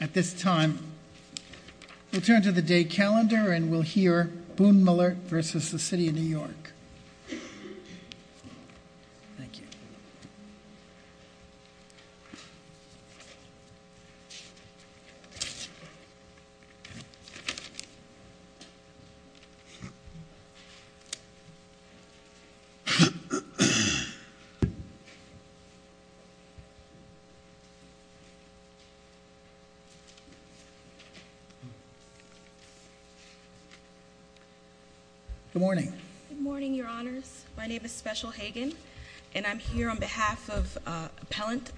At this time, we'll turn to the day calendar and we'll hear Boonmalert v. City of New York. Good morning. Good morning, your honors. My name is Special Hagan, and I'm here on behalf of Appellant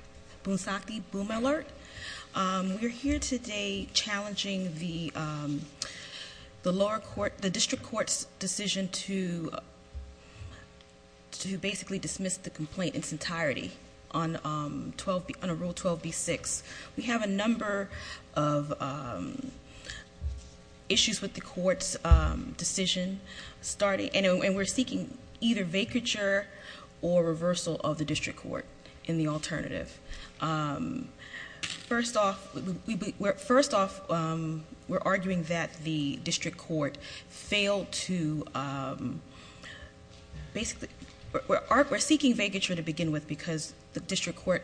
Bonsanti Boonmalert. We're here today challenging the district court's ruling on Rule 12B-6. We have a number of issues with the court's decision starting. And we're seeking either vacature or reversal of the district court in the alternative. First off, we're arguing that the district court failed to, basically, we're seeking vacature to begin with because the district court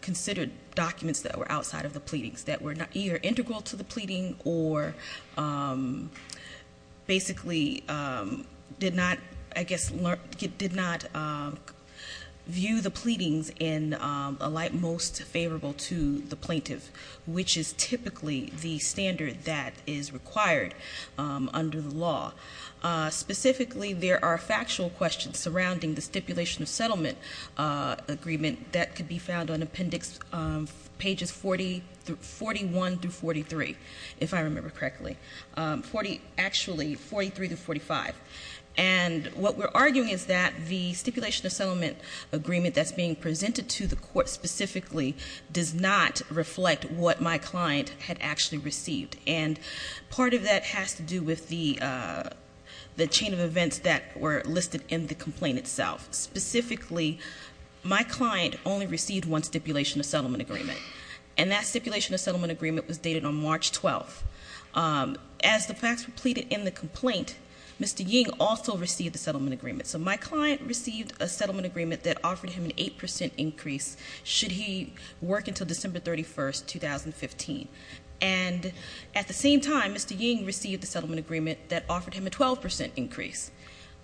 considered documents that were outside of the pleadings that were either integral to the pleading or basically did not, I guess, did not view the pleadings in a light most favorable to the plaintiff. Which is typically the standard that is required under the law. Specifically, there are factual questions surrounding the stipulation of settlement agreement that could be found on appendix pages 41 through 43, if I remember correctly, actually 43 to 45. And what we're arguing is that the stipulation of settlement agreement that's being presented to the court specifically does not reflect what my client had actually received. And part of that has to do with the chain of events that were listed in the complaint itself. Specifically, my client only received one stipulation of settlement agreement. And that stipulation of settlement agreement was dated on March 12th. As the facts were pleaded in the complaint, Mr. Ying also received the settlement agreement. So my client received a settlement agreement that offered him an 8% increase. Should he work until December 31st, 2015. And at the same time, Mr. Ying received a settlement agreement that offered him a 12% increase.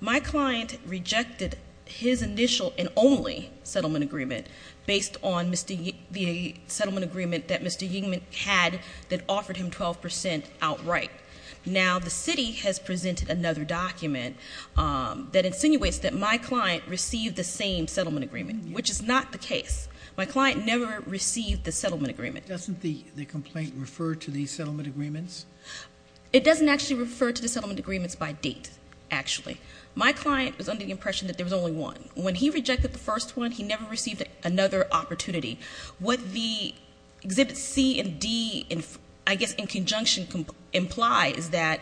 My client rejected his initial and only settlement agreement based on the settlement agreement that Mr. Ying had that offered him 12% outright. Now the city has presented another document that insinuates that my client received the same settlement agreement. Which is not the case. My client never received the settlement agreement. Doesn't the complaint refer to the settlement agreements? It doesn't actually refer to the settlement agreements by date, actually. My client was under the impression that there was only one. When he rejected the first one, he never received another opportunity. What the exhibit C and D, I guess in conjunction, implies that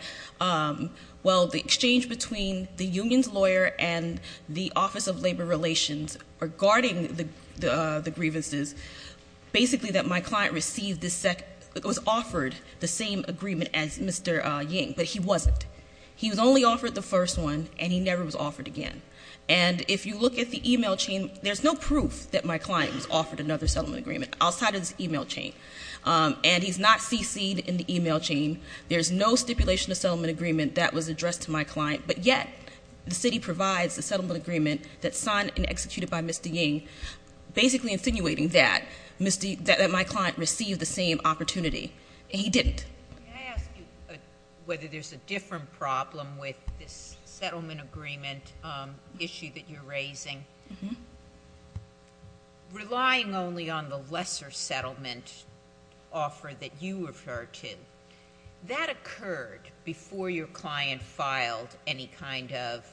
well the exchange between the union's lawyer and the office of labor relations regarding the grievances. Basically that my client was offered the same agreement as Mr. Ying, but he wasn't. He was only offered the first one, and he never was offered again. And if you look at the email chain, there's no proof that my client was offered another settlement agreement outside of this email chain. And he's not CC'd in the email chain. There's no stipulation of settlement agreement that was addressed to my client. But yet, the city provides the settlement agreement that's signed and executed by Mr. Ying, basically insinuating that my client received the same opportunity. He didn't. Can I ask you whether there's a different problem with this settlement agreement issue that you're raising? Relying only on the lesser settlement offer that you refer to. That occurred before your client filed any kind of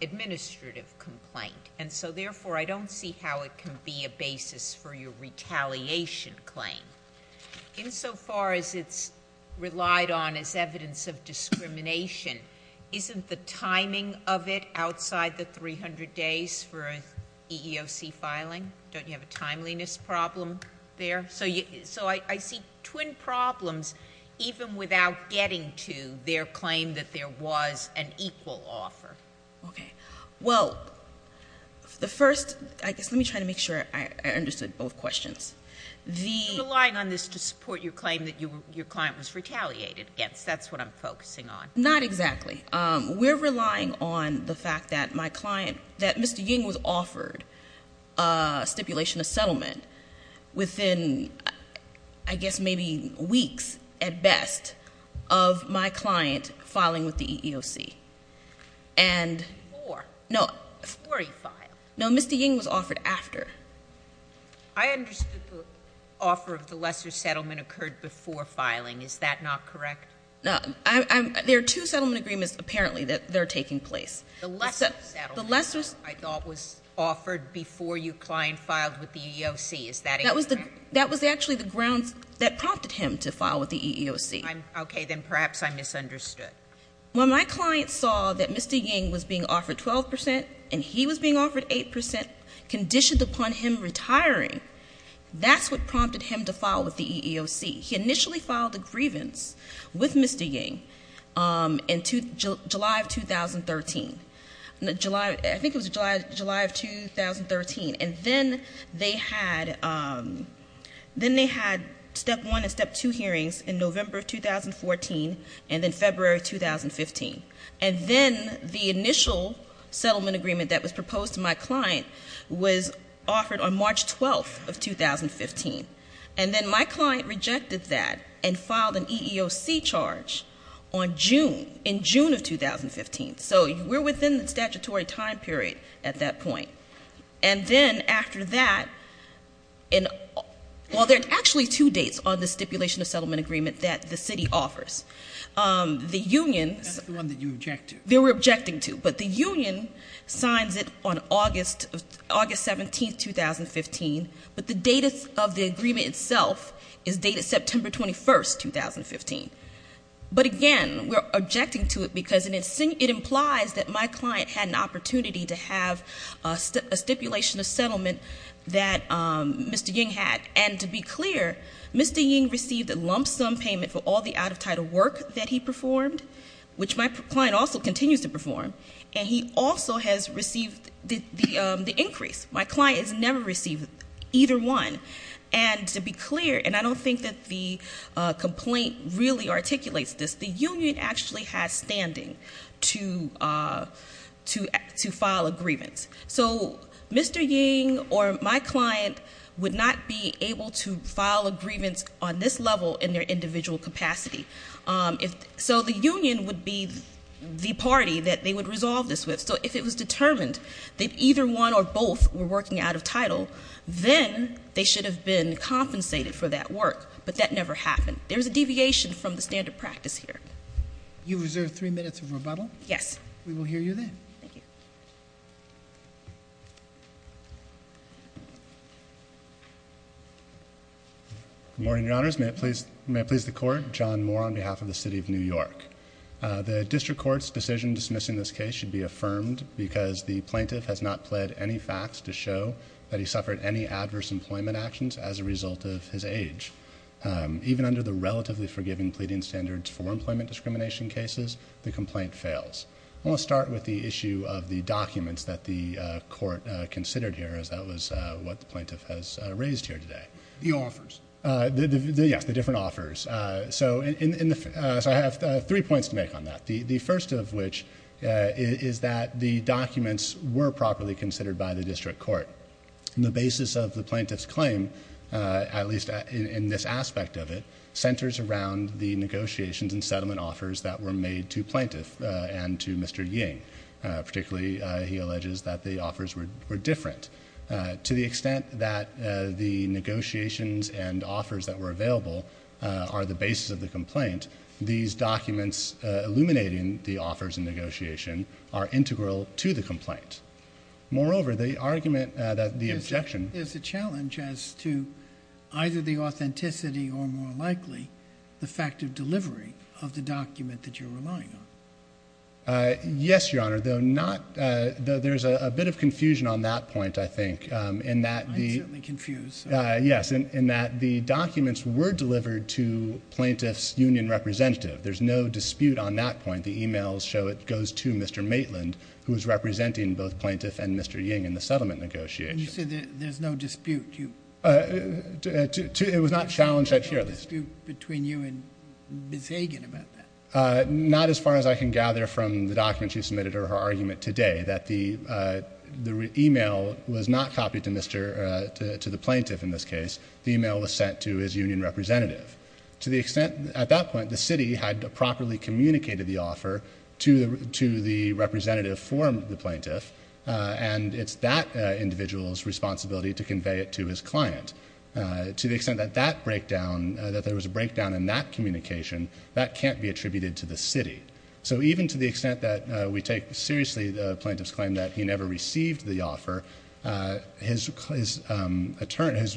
administrative complaint. And so therefore, I don't see how it can be a basis for your retaliation claim. In so far as it's relied on as evidence of discrimination, isn't the timing of it outside the 300 days for EEOC filing? Don't you have a timeliness problem there? So I see twin problems even without getting to their claim that there was an equal offer. Okay. Well, the first, I guess let me try to make sure I understood both questions. The- You're relying on this to support your claim that your client was retaliated against. That's what I'm focusing on. Not exactly. We're relying on the fact that my client, that Mr. Ying filed a settlement within, I guess maybe weeks at best of my client filing with the EEOC. And- Before. No. Before he filed. No, Mr. Ying was offered after. I understood the offer of the lesser settlement occurred before filing. Is that not correct? No, there are two settlement agreements, apparently, that are taking place. The lesser settlement- The lesser- I thought was offered before your client filed with the EEOC. Is that incorrect? That was actually the grounds that prompted him to file with the EEOC. Okay, then perhaps I misunderstood. When my client saw that Mr. Ying was being offered 12% and he was being offered 8% conditioned upon him retiring. That's what prompted him to file with the EEOC. He initially filed a grievance with Mr. Ying in July of 2013. I think it was July of 2013. And then they had step one and step two hearings in November of 2014 and then February of 2015. And then the initial settlement agreement that was proposed to my client was offered on March 12th of 2015. And then my client rejected that and filed an EEOC charge on June, in June of 2015. So we're within the statutory time period at that point. And then after that, well, there's actually two dates on the stipulation of settlement agreement that the city offers. The union- That's the one that you object to. They were objecting to, but the union signs it on August 17th, 2015. But the date of the agreement itself is dated September 21st, 2015. But again, we're objecting to it because it implies that my client had an opportunity to have a stipulation of settlement that Mr. Ying had. And to be clear, Mr. Ying received a lump sum payment for all the out of title work that he performed, which my client also continues to perform, and he also has received the increase. My client has never received either one. And to be clear, and I don't think that the complaint really articulates this, the union actually has standing to file a grievance. So Mr. Ying or my client would not be able to file a grievance on this level in their individual capacity. So the union would be the party that they would resolve this with. So if it was determined that either one or both were working out of title, then they should have been compensated for that work, but that never happened. There's a deviation from the standard practice here. You reserve three minutes of rebuttal? Yes. We will hear you then. Thank you. Good morning, your honors. May it please the court. John Moore on behalf of the city of New York. The district court's decision dismissing this case should be affirmed because the plaintiff has not pled any facts to show that he suffered any adverse employment actions as a result of his age. Even under the relatively forgiving pleading standards for employment discrimination cases, the complaint fails. I want to start with the issue of the documents that the court considered here, as that was what the plaintiff has raised here today. The offers. Yes, the different offers. So I have three points to make on that. The first of which is that the documents were properly considered by the district court. The basis of the plaintiff's claim, at least in this aspect of it, centers around the negotiations and settlement offers that were made to plaintiff and to Mr. Ying. Particularly, he alleges that the offers were different. To the extent that the negotiations and offers that were available are the basis of the complaint, these documents illuminating the offers and negotiation are integral to the complaint. Moreover, the argument that the objection- There's a challenge as to either the authenticity or more likely the fact of delivery of the document that you're relying on. Yes, your honor, though there's a bit of confusion on that point, I think, in that the- I'm certainly confused. Yes, in that the documents were delivered to plaintiff's union representative. There's no dispute on that point. The emails show it goes to Mr. Maitland, who is representing both plaintiff and Mr. Ying in the settlement negotiations. You said that there's no dispute. It was not challenged here, at least. There's no dispute between you and Ms. Hagan about that. Not as far as I can gather from the documents you submitted or her argument today. That the email was not copied to the plaintiff in this case. The email was sent to his union representative. To the extent, at that point, the city had properly communicated the offer to the representative for the plaintiff. And it's that individual's responsibility to convey it to his client. To the extent that that breakdown, that there was a breakdown in that communication, that can't be attributed to the city. So even to the extent that we take seriously the plaintiff's claim that he never received the offer, his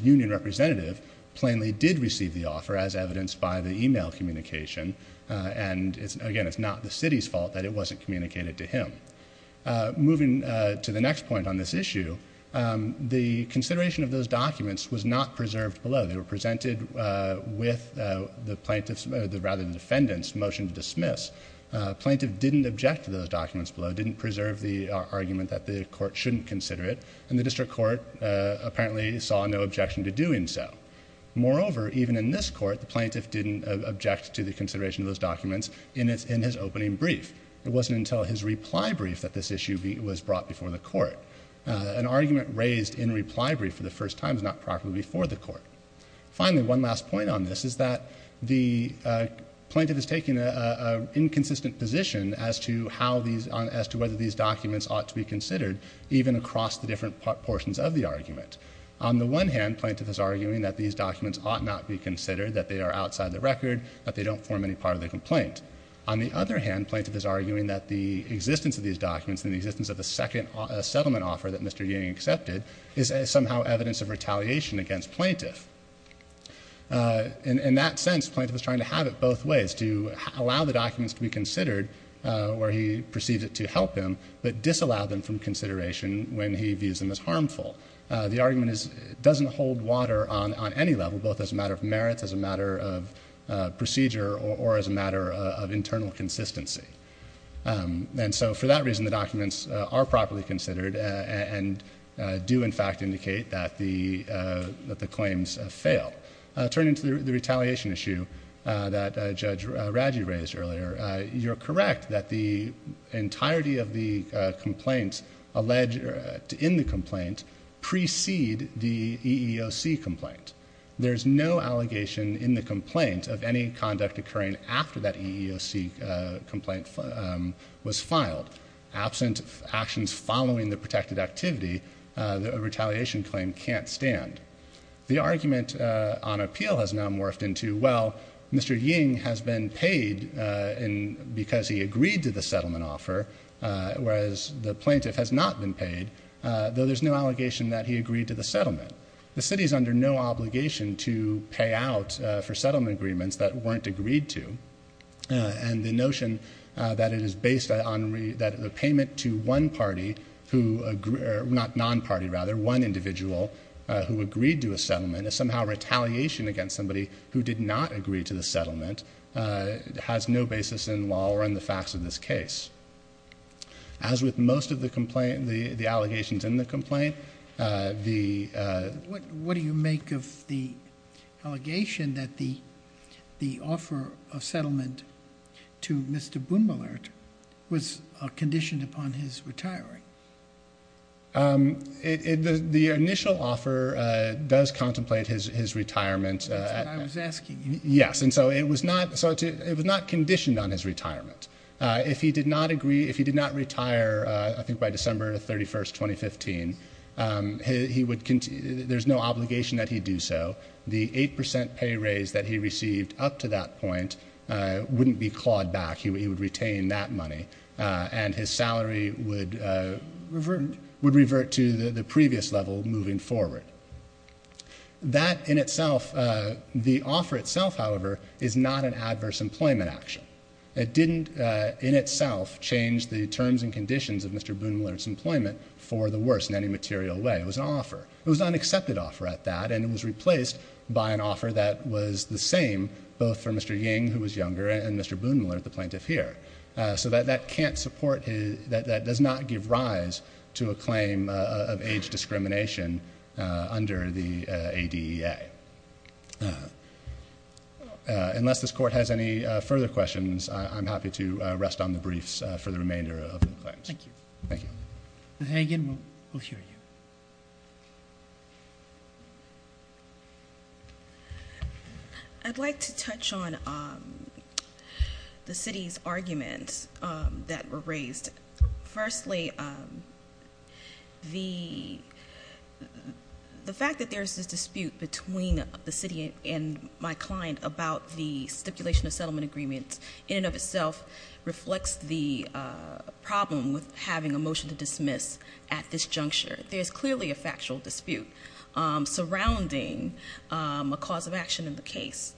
union representative plainly did receive the offer as evidenced by the email communication. And again, it's not the city's fault that it wasn't communicated to him. Moving to the next point on this issue, the consideration of those documents was not preserved below. They were presented with the plaintiff's, rather the defendant's motion to dismiss. Plaintiff didn't object to those documents below, didn't preserve the argument that the court shouldn't consider it. And the district court apparently saw no objection to doing so. Moreover, even in this court, the plaintiff didn't object to the consideration of those documents in his opening brief. It wasn't until his reply brief that this issue was brought before the court. An argument raised in reply brief for the first time is not properly before the court. Finally, one last point on this is that the plaintiff has taken an inconsistent position as to whether these documents ought to be considered even across the different portions of the argument. On the one hand, plaintiff is arguing that these documents ought not be considered, that they are outside the record, that they don't form any part of the complaint. On the other hand, plaintiff is arguing that the existence of these documents and the existence of the second settlement offer that Mr. Ying accepted is somehow evidence of retaliation against plaintiff. In that sense, plaintiff is trying to have it both ways, to allow the documents to be considered where he perceives it to help him, but disallow them from consideration when he views them as harmful. The argument doesn't hold water on any level, both as a matter of merit, as a matter of procedure, or as a matter of internal consistency. And so for that reason, the documents are properly considered and do in fact indicate that the claims fail. Turning to the retaliation issue that Judge Raggi raised earlier, you're correct that the entirety of the complaints alleged in the complaint precede the EEOC complaint. There's no allegation in the complaint of any conduct occurring after that EEOC complaint was filed. Absent actions following the protected activity, a retaliation claim can't stand. The argument on appeal has now morphed into, well, Mr. Ying has been paid because he agreed to the settlement offer, whereas the plaintiff has not been paid, though there's no allegation that he agreed to the settlement. The city's under no obligation to pay out for settlement agreements that weren't agreed to. And the notion that it is based on the payment to one party, not non-party rather, one individual who agreed to a settlement, is somehow retaliation against somebody who did not agree to the settlement, has no basis in law or in the facts of this case. As with most of the allegations in the complaint, the- What do you make of the allegation that the offer of settlement to Mr. Boone-Mullert was conditioned upon his retiring? The initial offer does contemplate his retirement. That's what I was asking you. Yes, and so it was not conditioned on his retirement. If he did not retire, I think by December 31st, 2015, there's no obligation that he do so. The 8% pay raise that he received up to that point wouldn't be clawed back. He would retain that money, and his salary would revert to the previous level moving forward. That in itself, the offer itself, however, is not an adverse employment action. It didn't, in itself, change the terms and conditions of Mr. Boone-Mullert's employment for the worst in any material way. It was an offer. It was an unaccepted offer at that, and it was replaced by an offer that was the same, both for Mr. Ying, who was younger, and Mr. Boone-Mullert, the plaintiff here. So that can't support, that does not give rise to a claim of age discrimination under the ADEA. Unless this court has any further questions, I'm happy to rest on the briefs for the remainder of the claims. Thank you. Thank you. Ms. Hagan, we'll hear you. I'd like to touch on the city's arguments that were raised. Firstly, the fact that there's this dispute between the city and my client about the stipulation of settlement agreements, in and of itself reflects the problem with having a motion to dismiss at this juncture. There's clearly a factual dispute surrounding a cause of action in the case.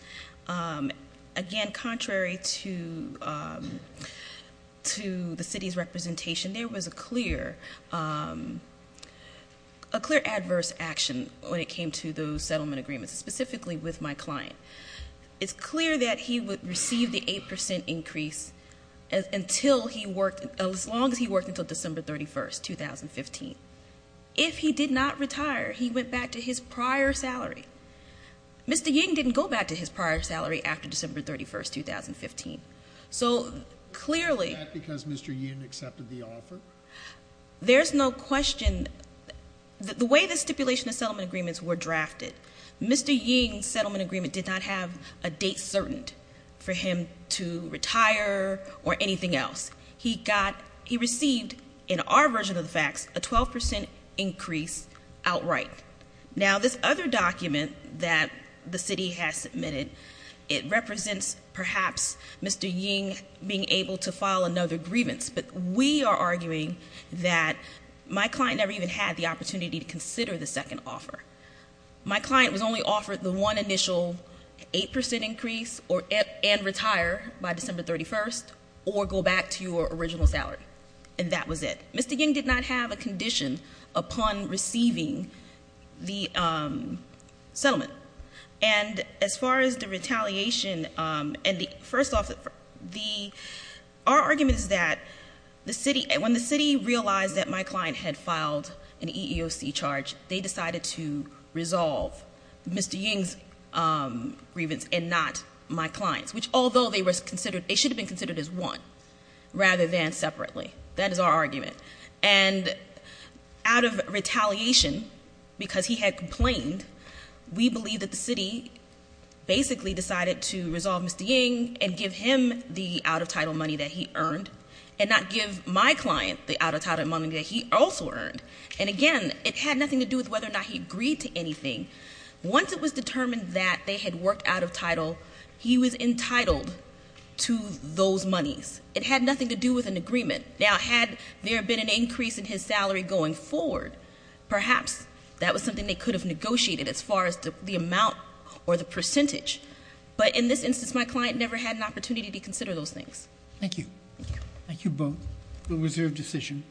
Again, contrary to the city's representation, there was a clear adverse action when it came to those settlement agreements, specifically with my client. It's clear that he would receive the 8% increase as long as he worked until December 31st, 2015. If he did not retire, he went back to his prior salary. Mr. Ying didn't go back to his prior salary after December 31st, 2015. So clearly- Is that because Mr. Ying accepted the offer? There's no question, the way the stipulation of settlement agreements were drafted, Mr. Ying's settlement agreement did not have a date certain for him to retire or anything else. He received, in our version of the facts, a 12% increase outright. Now this other document that the city has submitted, it represents perhaps Mr. Ying being able to file another grievance. But we are arguing that my client never even had the opportunity to consider the second offer. My client was only offered the one initial 8% increase and retire by December 31st, or go back to your original salary. And that was it. Mr. Ying did not have a condition upon receiving the settlement. And as far as the retaliation, and first off, our argument is that when the city realized that my client had filed an EEOC charge, they decided to resolve Mr. Ying's grievance and not my client's. Which although they should have been considered as one, rather than separately. That is our argument. And out of retaliation, because he had complained, we believe that the city basically decided to resolve Mr. Ying and give him the out of title money that he earned. And not give my client the out of title money that he also earned. And again, it had nothing to do with whether or not he agreed to anything. Once it was determined that they had worked out of title, he was entitled to those monies. It had nothing to do with an agreement. Now had there been an increase in his salary going forward, perhaps that was something they could have negotiated as far as the amount or the percentage. But in this instance, my client never had an opportunity to consider those things. Thank you. Thank you both. It was your decision.